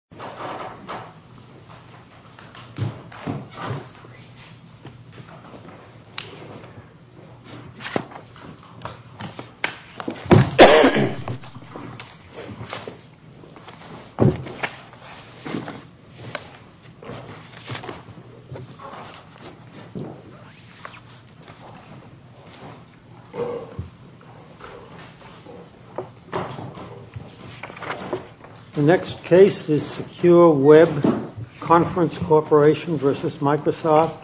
Department of Health and Human Services, United States Department of Health and Human Services, United States For the Secure Web Conference Corporation v. Microsoft,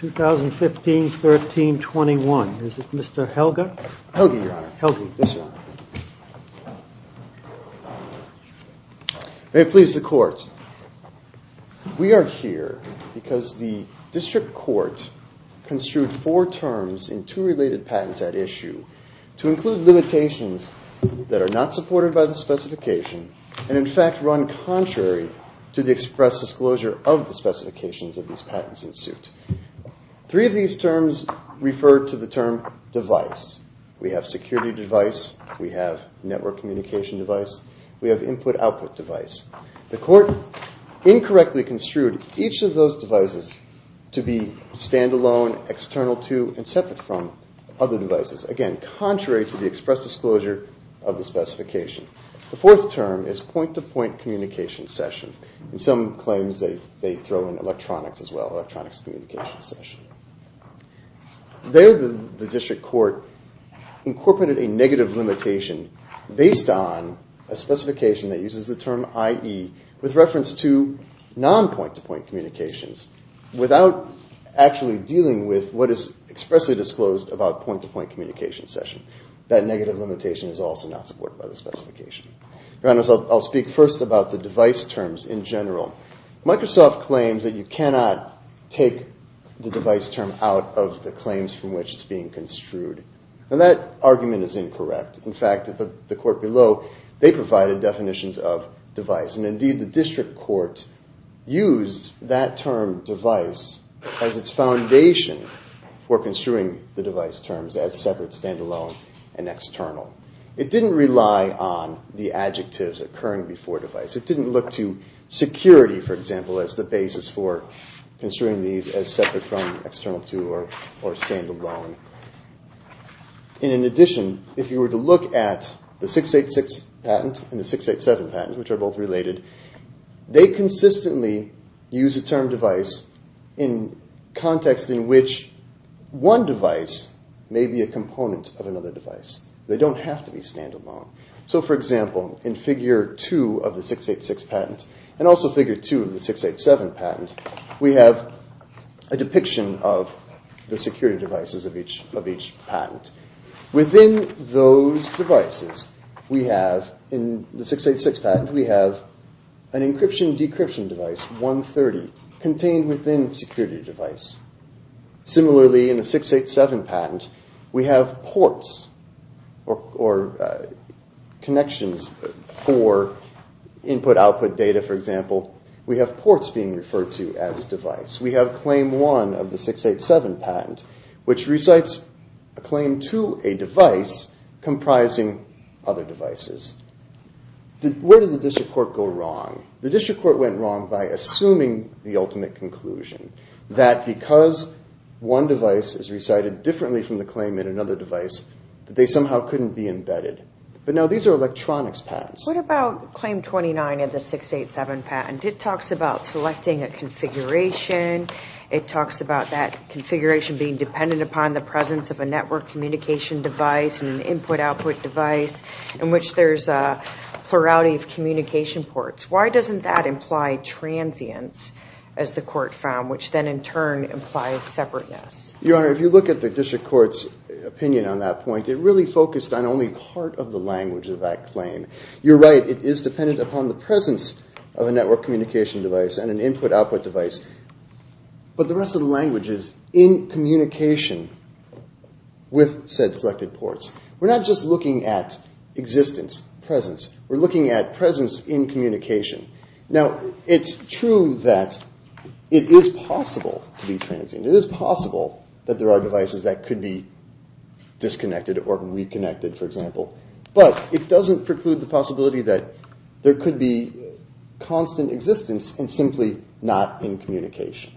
2015-1321. Is it Mr. Helga? Helge, Your Honor, Helge. Yes, sir. May it please the Court. We are here because the district court construed four terms in two related patents at issue to include limitations that are not supported by the specification and, in contrary, to the express disclosure of the specifications of these patents in suit. Three of these terms refer to the term device. We have security device. We have network communication device. We have input-output device. The court incorrectly construed each of those devices to be stand-alone, external to and separate from other devices, again, contrary to the express disclosure of the specification. The fourth term is point-to-point communication session. In some claims, they throw in electronics as well, electronics communication session. There, the district court incorporated a negative limitation based on a specification that uses the term IE with reference to non-point-to-point communications without actually dealing with what is expressly disclosed about point-to-point communication session. That negative limitation is also not supported by the specification. Your Honor, so I'll speak first about the device terms in general. Microsoft claims that you cannot take the device term out of the claims from which it's being construed, and that argument is incorrect. In fact, at the court below, they provided definitions of device, and indeed, the district court used that term device as its foundation for construing the device terms as separate, stand-alone, and external. It didn't rely on the adjectives occurring before device. It didn't look to security, for example, as the basis for construing these as separate from external to or stand-alone. In addition, if you were to look at the 686 patent and the 687 patent, which are both related, they consistently use the term device in context in which one device may be a component of another device. They don't have to be stand-alone. So for example, in Figure 2 of the 686 patent, and also Figure 2 of the 687 patent, we have a depiction of the security devices of each patent. Within those devices, we have, in the 686 patent, we have an encryption-decryption device, 130, contained within security device. Similarly, in the 687 patent, we have ports or connections for input-output data, for example. We have ports being referred to as device. We have Claim 1 of the 687 patent, which recites a claim to a device comprising other devices. Where did the district court go wrong? The district court went wrong by assuming the ultimate conclusion, that because one device is recited differently from the claim in another device, that they somehow couldn't be embedded. But now these are electronics patents. What about Claim 29 of the 687 patent? It talks about selecting a configuration. It talks about that configuration being dependent upon the presence of a network communication device and an input-output device in which there's a plurality of communication ports. Why doesn't that imply transience, as the court found, which then in turn implies separateness? Your Honor, if you look at the district court's opinion on that point, it really focused on only part of the language of that claim. You're right, it is dependent upon the presence of a network communication device and an input-output device. But the rest of the language is in communication with said selected ports. We're not just looking at existence, presence. We're looking at presence in communication. Now it's true that it is possible to be transient. It is possible that there are devices that could be disconnected or reconnected, for example. But it doesn't preclude the possibility that there could be constant existence and simply not in communication.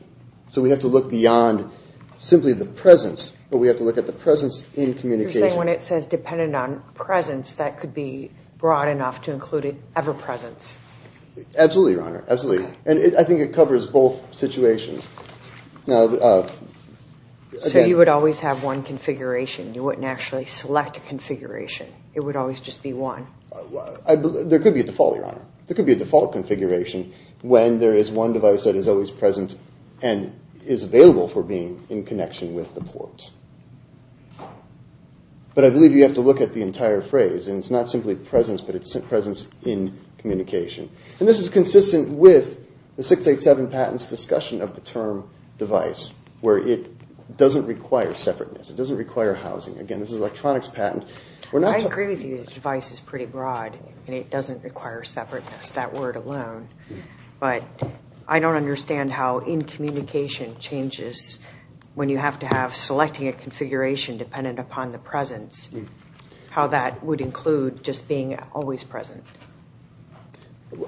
So we have to look beyond simply the presence, but we have to look at the presence in communication. So you're saying when it says dependent on presence, that could be broad enough to include ever-presence? Absolutely, Your Honor. Absolutely. And I think it covers both situations. So you would always have one configuration. You wouldn't actually select a configuration. It would always just be one. There could be a default, Your Honor. There could be a default configuration when there is one device that is always present and is available for being in connection with the port. But I believe you have to look at the entire phrase. It's not simply presence, but it's presence in communication. This is consistent with the 687 patent's discussion of the term device, where it doesn't require separateness. It doesn't require housing. Again, this is an electronics patent. I agree with you. The device is pretty broad, and it doesn't require separateness, that word alone. But I don't understand how in-communication changes when you have to have selecting a configuration dependent upon the presence. How that would include just being always present.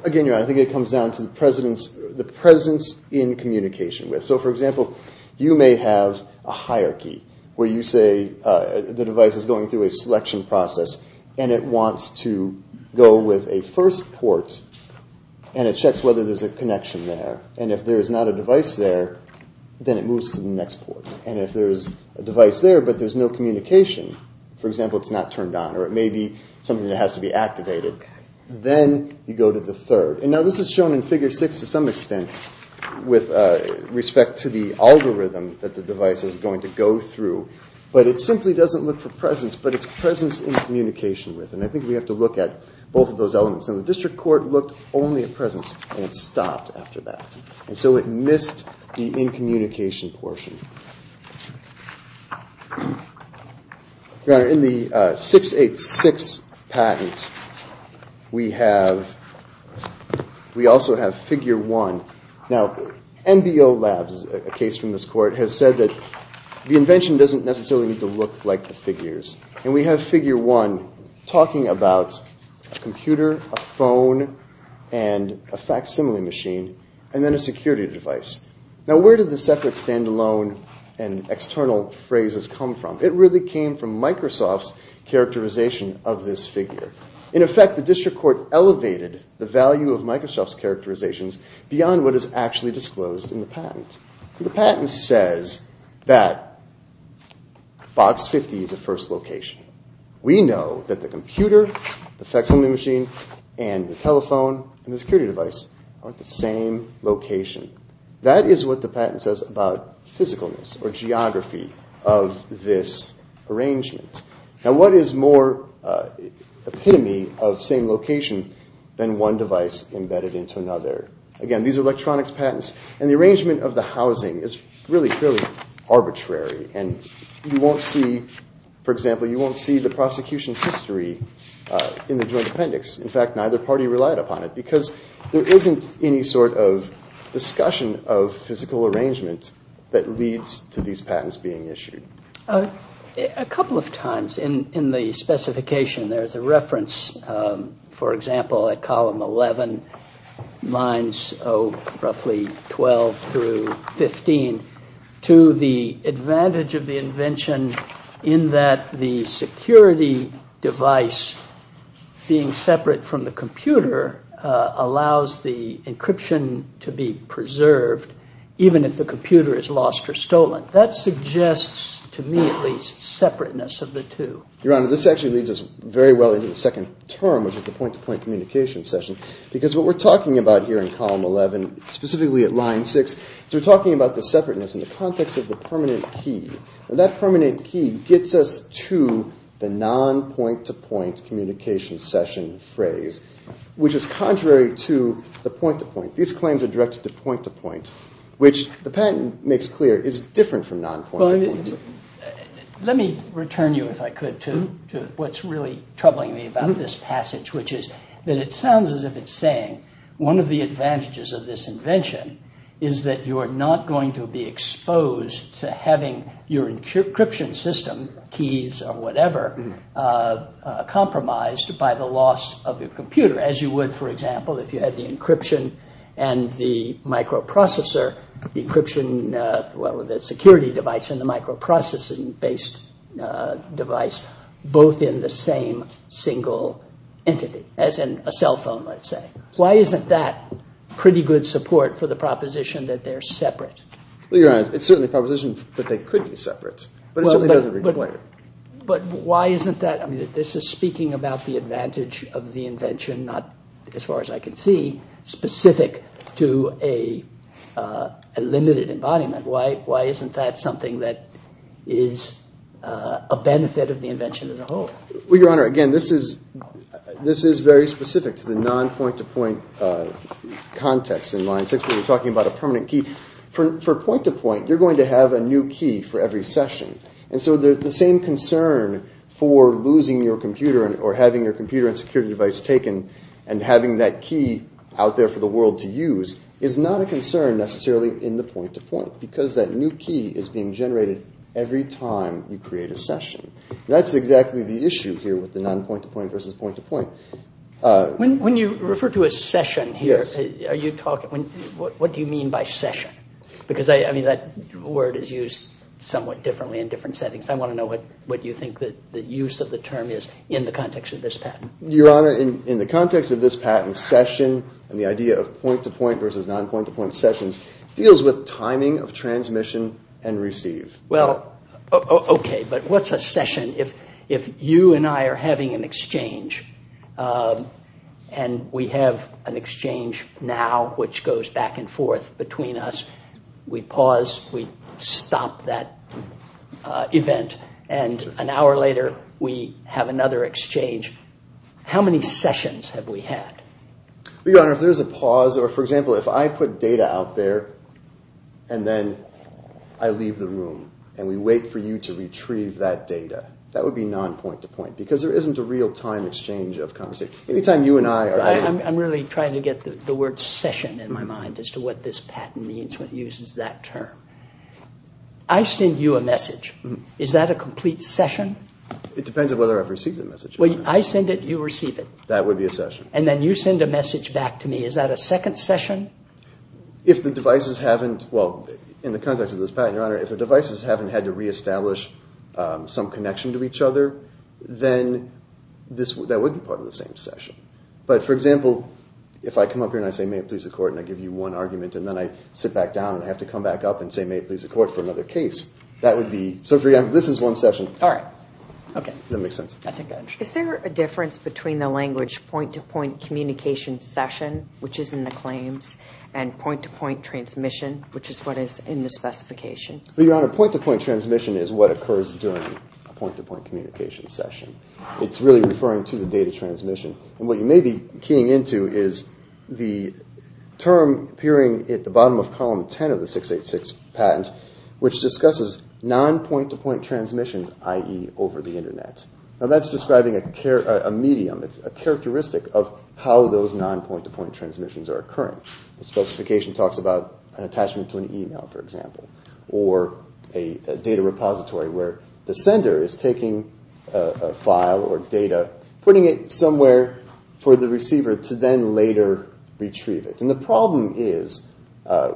Again, Your Honor, I think it comes down to the presence in communication. So for example, you may have a hierarchy where you say the device is going through a selection process, and it wants to go with a first port, and it checks whether there's a connection there. And if there's not a device there, then it moves to the next port. And if there's a device there, but there's no communication, for example, it's not turned on, or it may be something that has to be activated, then you go to the third. And now this is shown in Figure 6 to some extent with respect to the algorithm that the device is going to go through. But it simply doesn't look for presence, but it's presence in communication with. And I think we have to look at both of those elements. And the district court looked only at presence, and it stopped after that. And so it missed the in-communication portion. In the 686 patent, we also have Figure 1. Now, MBO Labs, a case from this court, has said that the invention doesn't necessarily need to look like the figures. And we have Figure 1 talking about a computer, a phone, and a facsimile machine, and then a security device. Now where did the separate standalone and external phrases come from? It really came from Microsoft's characterization of this figure. In effect, the district court elevated the value of Microsoft's characterizations beyond what is actually disclosed in the patent. The patent says that Box 50 is a first location. We know that the computer, the facsimile machine, and the telephone, and the security device are at the same location. That is what the patent says about physicalness, or geography, of this arrangement. Now what is more epitome of same location than one device embedded into another? Again, these are electronics patents, and the arrangement of the housing is really fairly arbitrary. And you won't see, for example, you won't see the prosecution history in the Joint Appendix. In fact, neither party relied upon it, because there isn't any sort of discussion of physical arrangement that leads to these patents being issued. A couple of times in the specification, there's a reference, for example, at column 11, lines roughly 12 through 15, to the advantage of the invention in that the security device being separate from the computer allows the encryption to be preserved, even if the computer is lost or stolen. That suggests, to me at least, separateness of the two. Your Honor, this actually leads us very well into the second term, which is the point-to-point communication session, because what we're talking about here in column 11, specifically at line 6, is we're talking about the separateness in the context of the permanent key. That permanent key gets us to the non-point-to-point communication session phrase, which is contrary to the point-to-point. These claims are directed to point-to-point, which the patent makes clear is different from non-point-to-point. Let me return you, if I could, to what's really troubling me about this passage, which is that it sounds as if it's saying one of the advantages of this invention is that you are not going to be exposed to having your encryption system, keys or whatever, compromised by the loss of your computer. As you would, for example, if you had the encryption and the microprocessor, the encryption – well, the security device and the microprocessing-based device, both in the same single entity, as in a cell phone, let's say. Why isn't that pretty good support for the proposition that they're separate? Well, Your Honor, it's certainly a proposition that they could be separate, but it certainly doesn't require it. But why isn't that? This is speaking about the advantage of the invention, not, as far as I can see, specific to a limited embodiment. Why isn't that something that is a benefit of the invention as a whole? Well, Your Honor, again, this is very specific to the non-point-to-point context in line 6, where you're talking about a permanent key. For point-to-point, you're going to have a new key for every session. So the same concern for losing your computer or having your computer and security device taken and having that key out there for the world to use is not a concern necessarily in the point-to-point, because that new key is being generated every time you create a session. That's exactly the issue here with the non-point-to-point versus point-to-point. When you refer to a session here, what do you mean by session? Because that word is used somewhat differently in different settings. I want to know what you think the use of the term is in the context of this patent. Your Honor, in the context of this patent, session and the idea of point-to-point versus non-point-to-point sessions deals with timing of transmission and receive. Well, OK, but what's a session if you and I are having an exchange and we have an exchange now which goes back and forth between us, we pause, we stop that event, and an hour later we have another exchange? How many sessions have we had? Your Honor, if there's a pause or, for example, if I put data out there and then I leave the room and we wait for you to retrieve that data, that would be non-point-to-point because there isn't a real-time exchange of conversation. I'm really trying to get the word session in my mind as to what this patent means when it uses that term. I send you a message. Is that a complete session? It depends on whether I've received the message. I send it, you receive it. That would be a session. And then you send a message back to me. Is that a second session? If the devices haven't, well, in the context of this patent, Your Honor, if the devices haven't had to reestablish some connection to each other, then that wouldn't be part of the same session. But for example, if I come up here and I say, may it please the Court, and I give you one argument and then I sit back down and I have to come back up and say, may it please the Court for another case, that would be, so for example, this is one session. All right. Okay. Does that make sense? I think I understand. Is there a difference between the language point-to-point communication session, which is in the claims, and point-to-point transmission, which is what is in the specification? Well, Your Honor, point-to-point transmission is what occurs during a point-to-point communication session. It's really referring to the data transmission. And what you may be keying into is the term appearing at the bottom of column 10 of the 686 patent, which discusses non-point-to-point transmissions, i.e. over the Internet. Now, that's describing a medium, a characteristic of how those non-point-to-point transmissions are occurring. The specification talks about an attachment to an email, for example, or a data repository where the sender is taking a file or data, putting it somewhere for the receiver to then later retrieve it. And the problem is,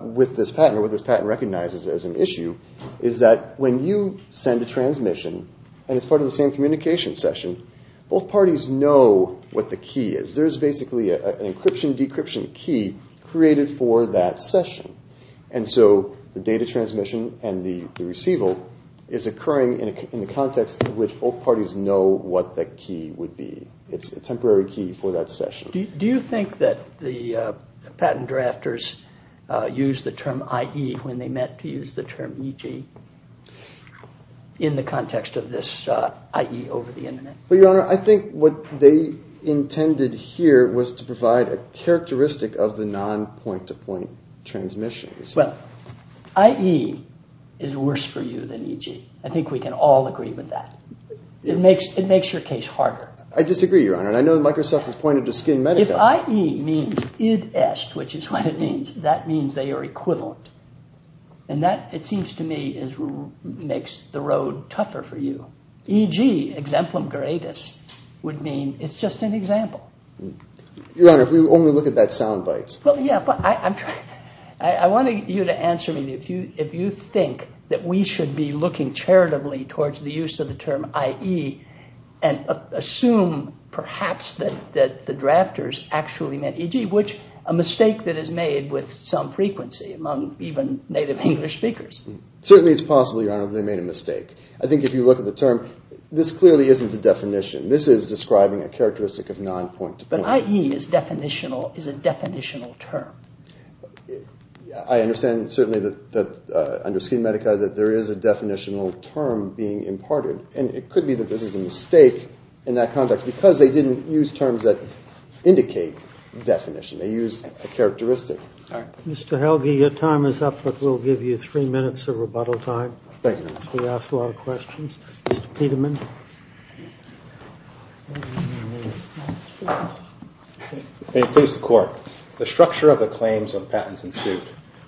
with this patent, or what this patent recognizes as an issue, is that when you send a transmission, and it's part of the same communication session, both parties know what the key is. There's basically an encryption-decryption key created for that session. And so the data transmission and the receiver is occurring in the context in which both parties know what the key would be. It's a temporary key for that session. Do you think that the patent drafters used the term IE when they meant to use the term EG in the context of this IE over the Internet? Well, Your Honor, I think what they intended here was to provide a characteristic of the non-point-to-point transmissions. Well, IE is worse for you than EG. I think we can all agree with that. It makes your case harder. I disagree, Your Honor. And I know Microsoft has pointed to SkinMedica. If IE means id est, which is what it means, that means they are equivalent. And that, it seems to me, makes the road tougher for you. EG, exemplum geratus, would mean it's just an example. Your Honor, if we only look at that soundbite. Well, yeah, but I want you to answer me if you think that we should be looking charitably towards the use of the term IE and assume, perhaps, that the drafters actually meant EG, which a mistake that is made with some frequency among even native English speakers. Certainly, it's possible, Your Honor, that they made a mistake. I think if you look at the term, this clearly isn't a definition. This is describing a characteristic of non-point-to-point. But IE is a definitional term. I understand, certainly, that under SkinMedica, that there is a definitional term being imparted. And it could be that this is a mistake in that context because they didn't use terms that indicate definition. They used a characteristic. Mr. Helge, your time is up, but we'll give you three minutes of rebuttal time. Thank you. We asked a lot of questions. Mr. Peterman? May it please the Court. The structure of the claims of the patents in suit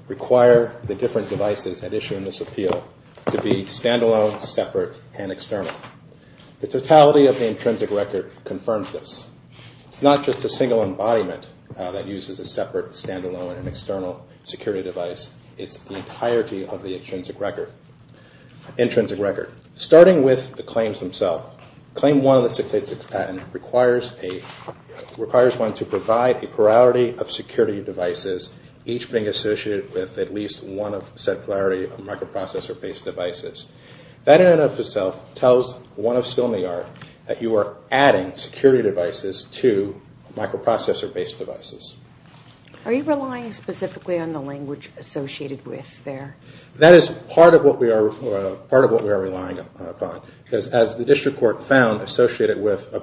require the different devices at issue in this appeal to be standalone, separate, and external. The totality of the intrinsic record confirms this. It's not just a single embodiment that uses a separate, standalone, and external security device. It's the entirety of the intrinsic record. Starting with the claims themselves, Claim 1 of the 686 patent requires one to provide a plurality of security devices, each being associated with at least one of said plurality of microprocessor-based devices. That in and of itself tells one of Skilney Art that you are adding security devices to microprocessor-based devices. Are you relying specifically on the language associated with there? That is part of what we are relying upon, because as the district court found, associated with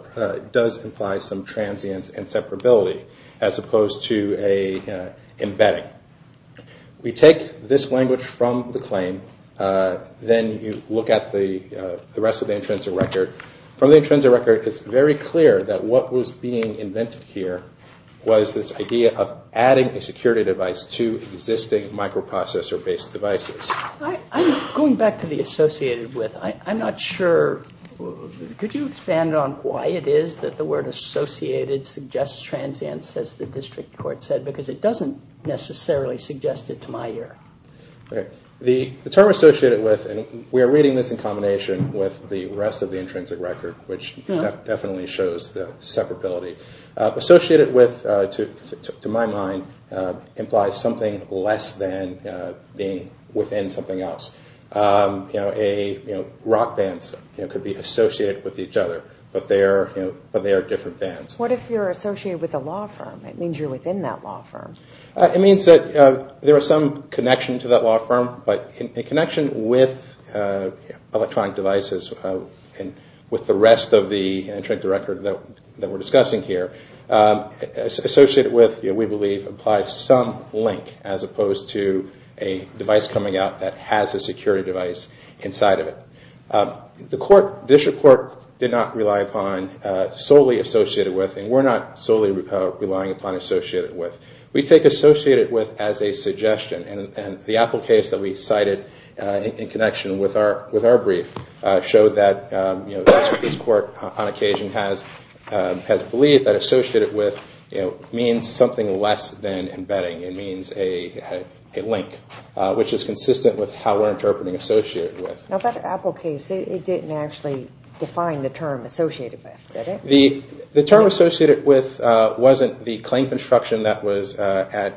does imply some transience and separability, as opposed to an embedding. We take this language from the claim, then you look at the rest of the intrinsic record. From the intrinsic record, it's very clear that what was being invented here was this combination of microprocessor-based devices. Going back to the associated with, I'm not sure, could you expand on why it is that the word associated suggests transience, as the district court said, because it doesn't necessarily suggest it to my ear. The term associated with, and we are reading this in combination with the rest of the intrinsic record, which definitely shows the separability, associated with, to my mind, implies something less than being within something else. Rock bands could be associated with each other, but they are different bands. What if you are associated with a law firm? It means you are within that law firm. It means that there is some connection to that law firm, but in connection with electronic devices and with the rest of the intrinsic record that we are discussing here, associated with, we believe, implies some link as opposed to a device coming out that has a security device inside of it. The court, district court, did not rely upon solely associated with, and we are not solely relying upon associated with. We take associated with as a suggestion, and the Apple case that we cited in connection with our brief showed that this court, on occasion, has believed that associated with means something less than embedding. It means a link, which is consistent with how we are interpreting associated with. Now, that Apple case, it did not actually define the term associated with, did it? The term associated with was not the claim construction that was at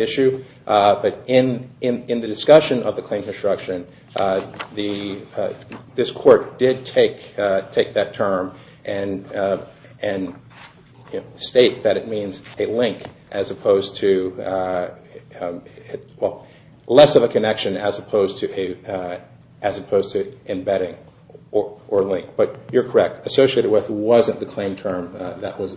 issue, but in the discussion of the claim construction, this court did take that term and stated that it means a link as opposed to, well, less of a connection as opposed to embedding or link, but you are correct. Associated with was not the claim term that was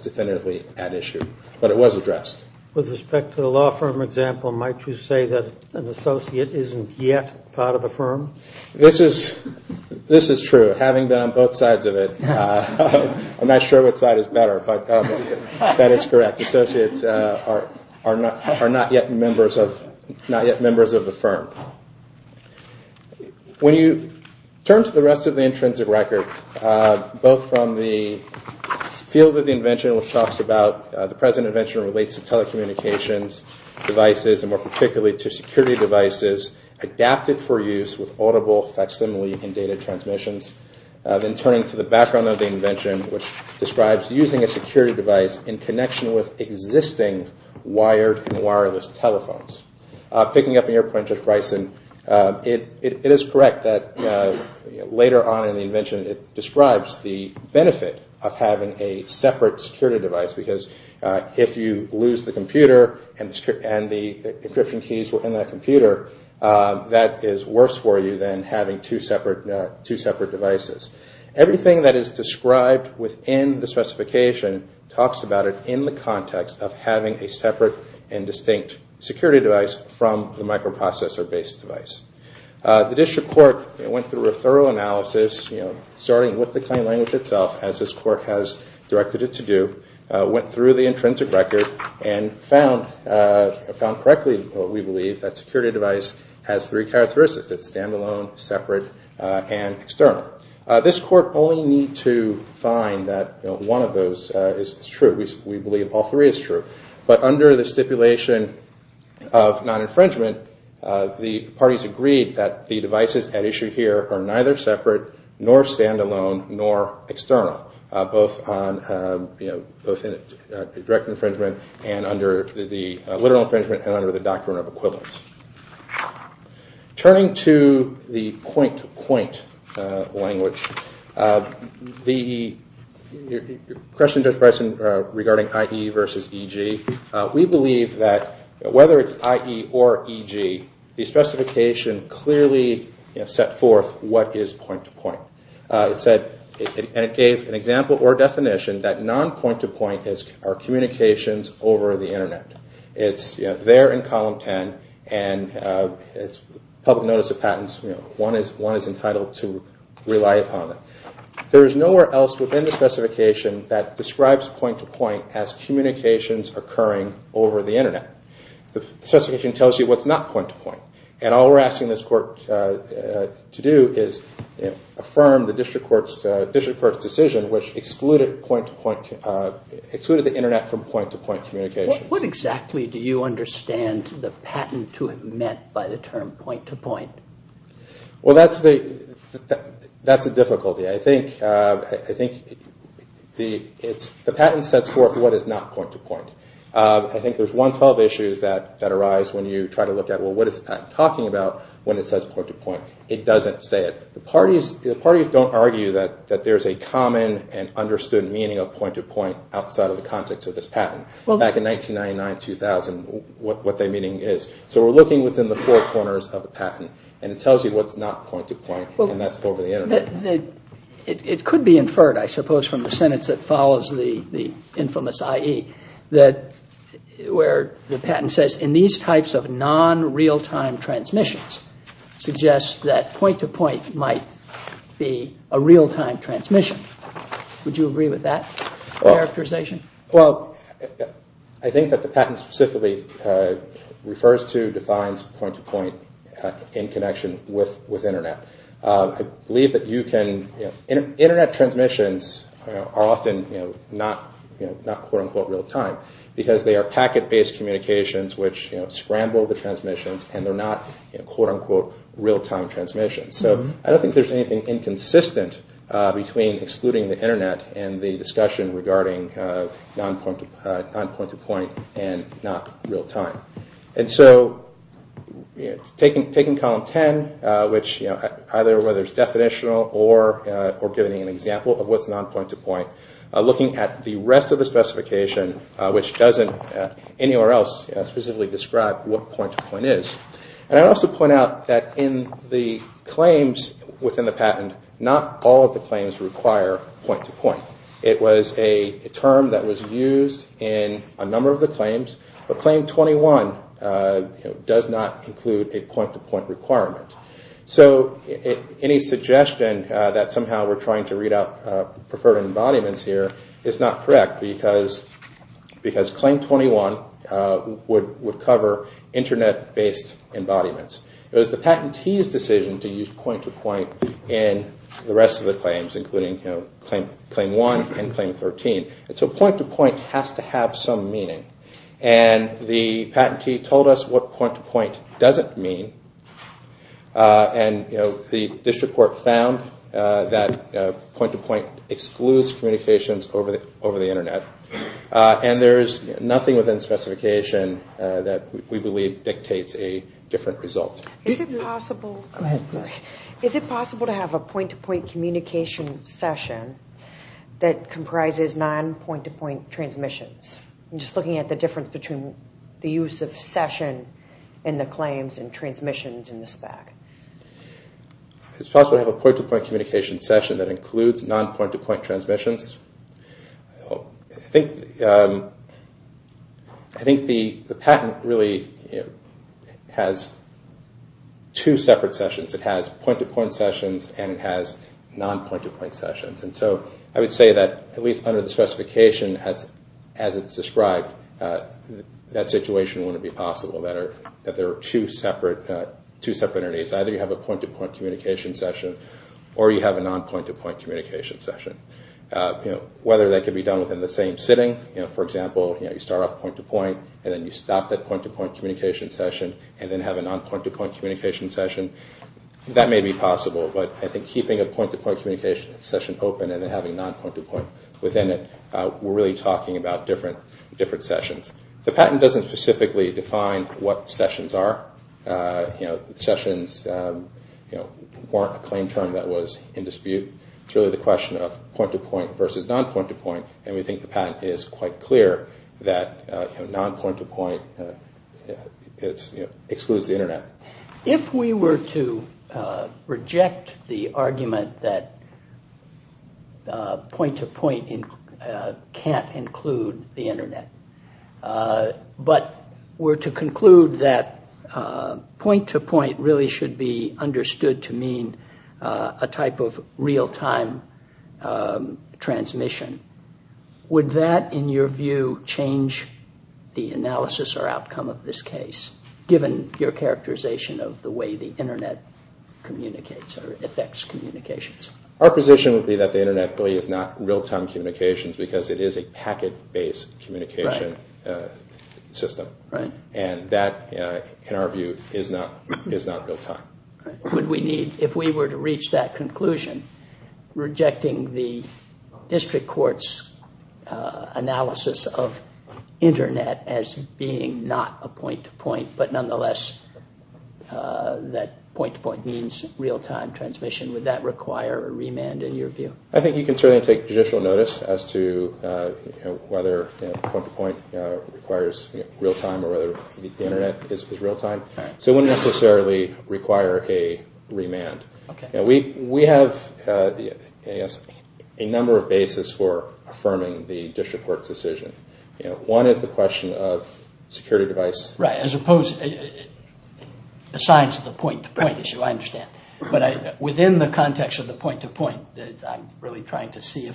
definitively at issue, but it was addressed. With respect to the law firm example, might you say that an associate is not yet part of the firm? This is true. Having been on both sides of it, I'm not sure which side is better, but that is correct. Associates are not yet members of the firm. When you turn to the rest of the intrinsic record, both from the field of the invention which talks about the present invention relates to telecommunications devices, and more particularly to security devices adapted for use with audible facsimile and data transmissions, then turning to the background of the invention which describes using a security device in connection with existing wired and wireless telephones. Picking up on your point, Judge Bryson, it is correct that later on in the invention it describes the benefit of having a separate security device because if you lose the computer and the encryption keys were in that computer, that is worse for you than having two separate devices. Everything that is described within the specification talks about it in the context of having a separate and distinct security device from the microprocessor based device. The district court went through a thorough analysis, starting with the claim language itself, as this court has directed it to do, went through the intrinsic record and found correctly what we believe, that security device has three characteristics, it is standalone, separate, and external. This court only needs to find that one of those is true. We believe all three are true. But under the stipulation of non-infringement, the parties agreed that the devices at issue here are neither separate, nor standalone, nor external, both on direct infringement and under the literal infringement and under the doctrine of equivalence. Turning to the point-to-point language, the question, Judge Bryson, regarding IE versus EG, we believe that whether it is IE or EG, the specification clearly set forth that the question is, what is point-to-point? It gave an example or definition that non-point-to-point are communications over the internet. It's there in column 10 and it's public notice of patents, one is entitled to rely upon it. There is nowhere else within the specification that describes point-to-point as communications occurring over the internet. The specification tells you what's not point-to-point. And all we're asking this court to do is affirm the district court's decision, which excluded the internet from point-to-point communications. What exactly do you understand the patent to have meant by the term point-to-point? Well that's a difficulty. I think the patent sets forth what is not point-to-point. I think there's 112 issues that arise when you try to look at, well what is the patent talking about when it says point-to-point? It doesn't say it. The parties don't argue that there's a common and understood meaning of point-to-point outside of the context of this patent. Back in 1999-2000, what their meaning is. So we're looking within the four corners of the patent and it tells you what's not point-to-point and that's over the internet. It could be inferred, I suppose, from the sentence that follows the infamous IE, where the patent says, and these types of non-real-time transmissions suggest that point-to-point might be a real-time transmission. Would you agree with that characterization? I think that the patent specifically refers to, defines point-to-point in connection with internet. I believe that you can, internet transmissions are often not quote-unquote real-time because they are packet-based communications which scramble the transmissions and they're not quote-unquote real-time transmissions. So I don't think there's anything inconsistent between excluding the internet and the discussion regarding non-point-to-point and not real-time. And so, taking column 10, which either whether it's definitional or giving an example of what's non-point-to-point, looking at the rest of the specification which doesn't anywhere else specifically describe what point-to-point is, and I'd also point out that in the claims within the patent, not all of the claims require point-to-point. It was a term that was used in a number of the claims, but Claim 21 does not include a point-to-point requirement. So any suggestion that somehow we're trying to read out preferred embodiments here is not correct because Claim 21 would cover internet-based embodiments. It was the patentee's decision to use point-to-point in the rest of the claims, including Claim 1 and Claim 13. So point-to-point has to have some meaning. And the patentee told us what point-to-point doesn't mean, and the district court found that point-to-point excludes communications over the internet. And there is nothing within the specification that we believe dictates a different result. Is it possible to have a point-to-point communication session that comprises non-point-to-point transmissions? I'm just looking at the difference between the use of session in the claims and transmissions in the spec. It's possible to have a point-to-point communication session that includes non-point-to-point transmissions. I think the patent really has two separate sessions. It has point-to-point sessions and it has non-point-to-point sessions. And so I would say that, at least under the specification as it's described, that situation wouldn't be possible, that there are two separate entities. Either you have a point-to-point communication session or you have a non-point-to-point communication session. Whether that can be done within the same sitting, for example, you start off point-to-point and then you stop that point-to-point communication session and then have a non-point-to-point communication session, that may be possible. But I think keeping a point-to-point communication session open and then having non-point-to-point within it, we're really talking about different sessions. The patent doesn't specifically define what sessions are. Sessions weren't a claim term that was in dispute. It's really the question of point-to-point versus non-point-to-point. And we think the patent is quite clear that non-point-to-point excludes the Internet. If we were to reject the argument that point-to-point can't include the Internet, but were to conclude that point-to-point really should be understood to mean a type of real-time transmission, would that, in your view, change the analysis or outcome of this case, given your characterization of the way the Internet communicates or affects communications? Our position would be that the Internet really is not real-time communications because it is a packet-based communication system. And that, in our view, is not real-time. If we were to reach that conclusion, rejecting the district court's analysis of Internet as being not a point-to-point, but nonetheless that point-to-point means real-time transmission, would that require a remand, in your view? I think you can certainly take judicial notice as to whether point-to-point requires real-time or whether the Internet is real-time. So it wouldn't necessarily require a remand. We have a number of bases for affirming the district court's decision. One is the question of security device... Right, as opposed to the science of the point-to-point issue, I understand. But within the context of the point-to-point, I'm really trying to see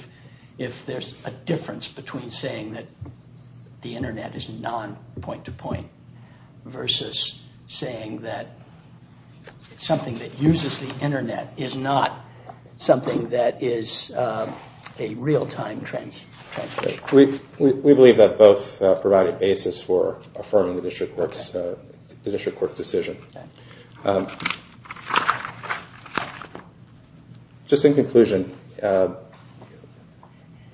if there's a difference between saying that the Internet is non-point-to-point versus saying that something that uses the Internet is not something that is a real-time transmission. We believe that both provide a basis for affirming the district court's decision. Just in conclusion,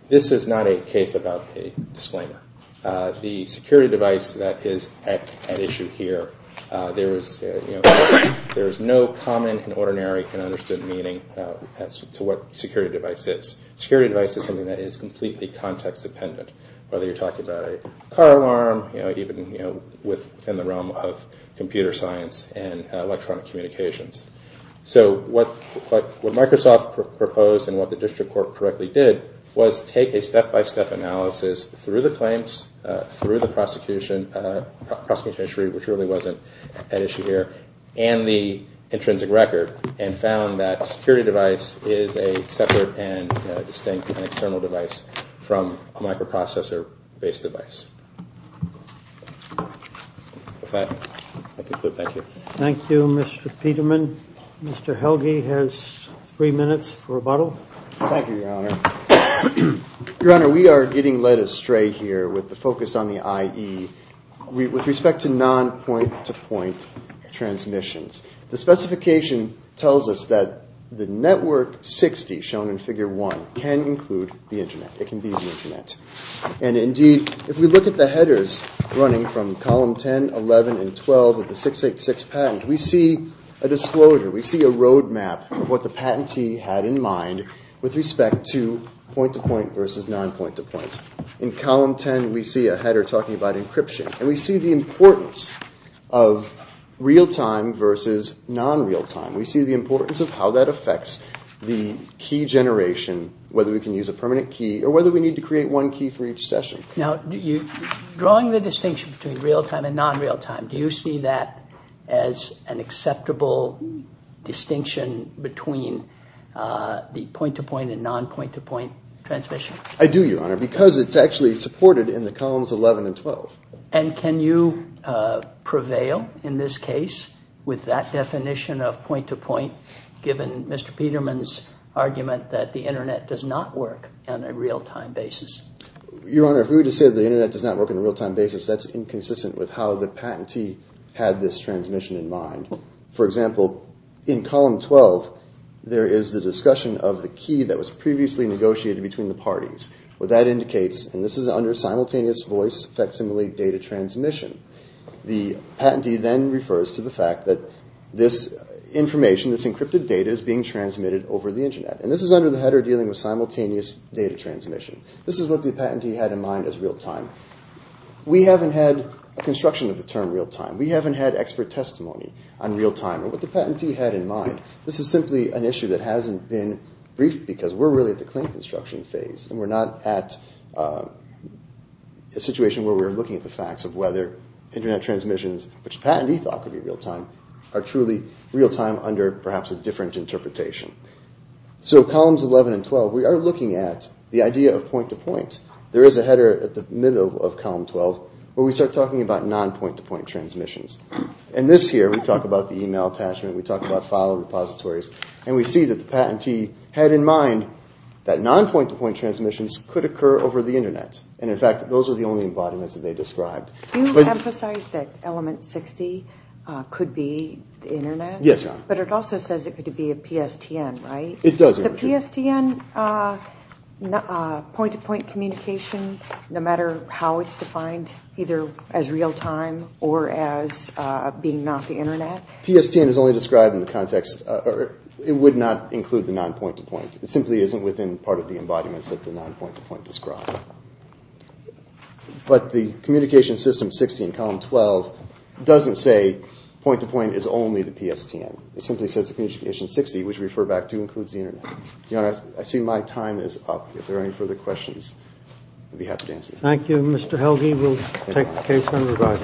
this is not a case about a disclaimer. The security device that is at issue here, there is no common, ordinary, and understood meaning to what a security device is. Security device is something that is completely context-dependent, whether you're talking about a car alarm, even within the realm of computer science and electronic communications. So what Microsoft proposed and what the district court correctly did was take a step-by-step analysis through the claims, through the prosecution, which really wasn't an issue here, and the intrinsic record, and found that a security device is a separate and distinct external device from a microprocessor-based device. Thank you, Mr. Peterman. Mr. Helge has three minutes for rebuttal. Thank you, Your Honor. Your Honor, we are getting led astray here with the focus on the IE with respect to non-point-to-point transmissions. The specification tells us that the Network 60 shown in Figure 1 can include the Internet. And indeed, if we look at the headers running from Column 10, 11, and 12 of the 686 patent, we see a disclosure, we see a roadmap of what the patentee had in mind with respect to point-to-point versus non-point-to-point. In Column 10, we see a header talking about encryption, and we see the importance of real-time versus non-real-time. We see the importance of how that affects the key generation, whether we can use a permanent key or whether we need to create one key for each session. Now, drawing the distinction between real-time and non-real-time, do you see that as an acceptable distinction between the point-to-point and non-point-to-point transmission? I do, Your Honor, because it's actually supported in the Columns 11 and 12. And can you prevail in this case with that definition of point-to-point, given Mr. Peterman's argument that the Internet does not work on a real-time basis? Your Honor, if we were to say the Internet does not work on a real-time basis, that's inconsistent with how the patentee had this transmission in mind. For example, in Column 12, there is the discussion of the key that was previously negotiated between the parties. What that indicates, and this is under simultaneous voice facsimile data transmission, the patentee then refers to the fact that this information, this encrypted data, is being transmitted over the Internet. And this is under the header dealing with simultaneous data transmission. This is what the patentee had in mind as real-time. We haven't had a construction of the term real-time. We haven't had expert testimony on real-time, or what the patentee had in mind. This is simply an issue that hasn't been briefed, because we're really at the claim construction phase, and we're not at a situation where we're looking at the facts of whether Internet transmissions, which the patentee thought could be real-time, are truly real-time under perhaps a different interpretation. So Columns 11 and 12, we are looking at the idea of point-to-point. There is a header at the middle of Column 12 where we start talking about non-point-to-point transmissions. And this here, we talk about the e-mail attachment, we talk about file repositories, and we see that the patentee had in mind that non-point-to-point transmissions could occur over the Internet. And in fact, those are the only embodiments that they described. Do you emphasize that Element 60 could be the Internet? Yes, Your Honor. But it also says it could be a PSTN, right? It does, Your Honor. Is a PSTN point-to-point communication, no matter how it's defined, either as real-time or as being not the Internet? PSTN is only described in the context, or it would not include the non-point-to-point. It simply isn't within part of the embodiments that the non-point-to-point described. But the Communication System 60 in Column 12 doesn't say point-to-point is only the PSTN. It simply says the Communication System 60, which we refer back to, includes the Internet. Your Honor, I see my time is up. If there are any further questions, I'd be happy to answer them. Thank you, Mr. Helge. We'll take the case under review.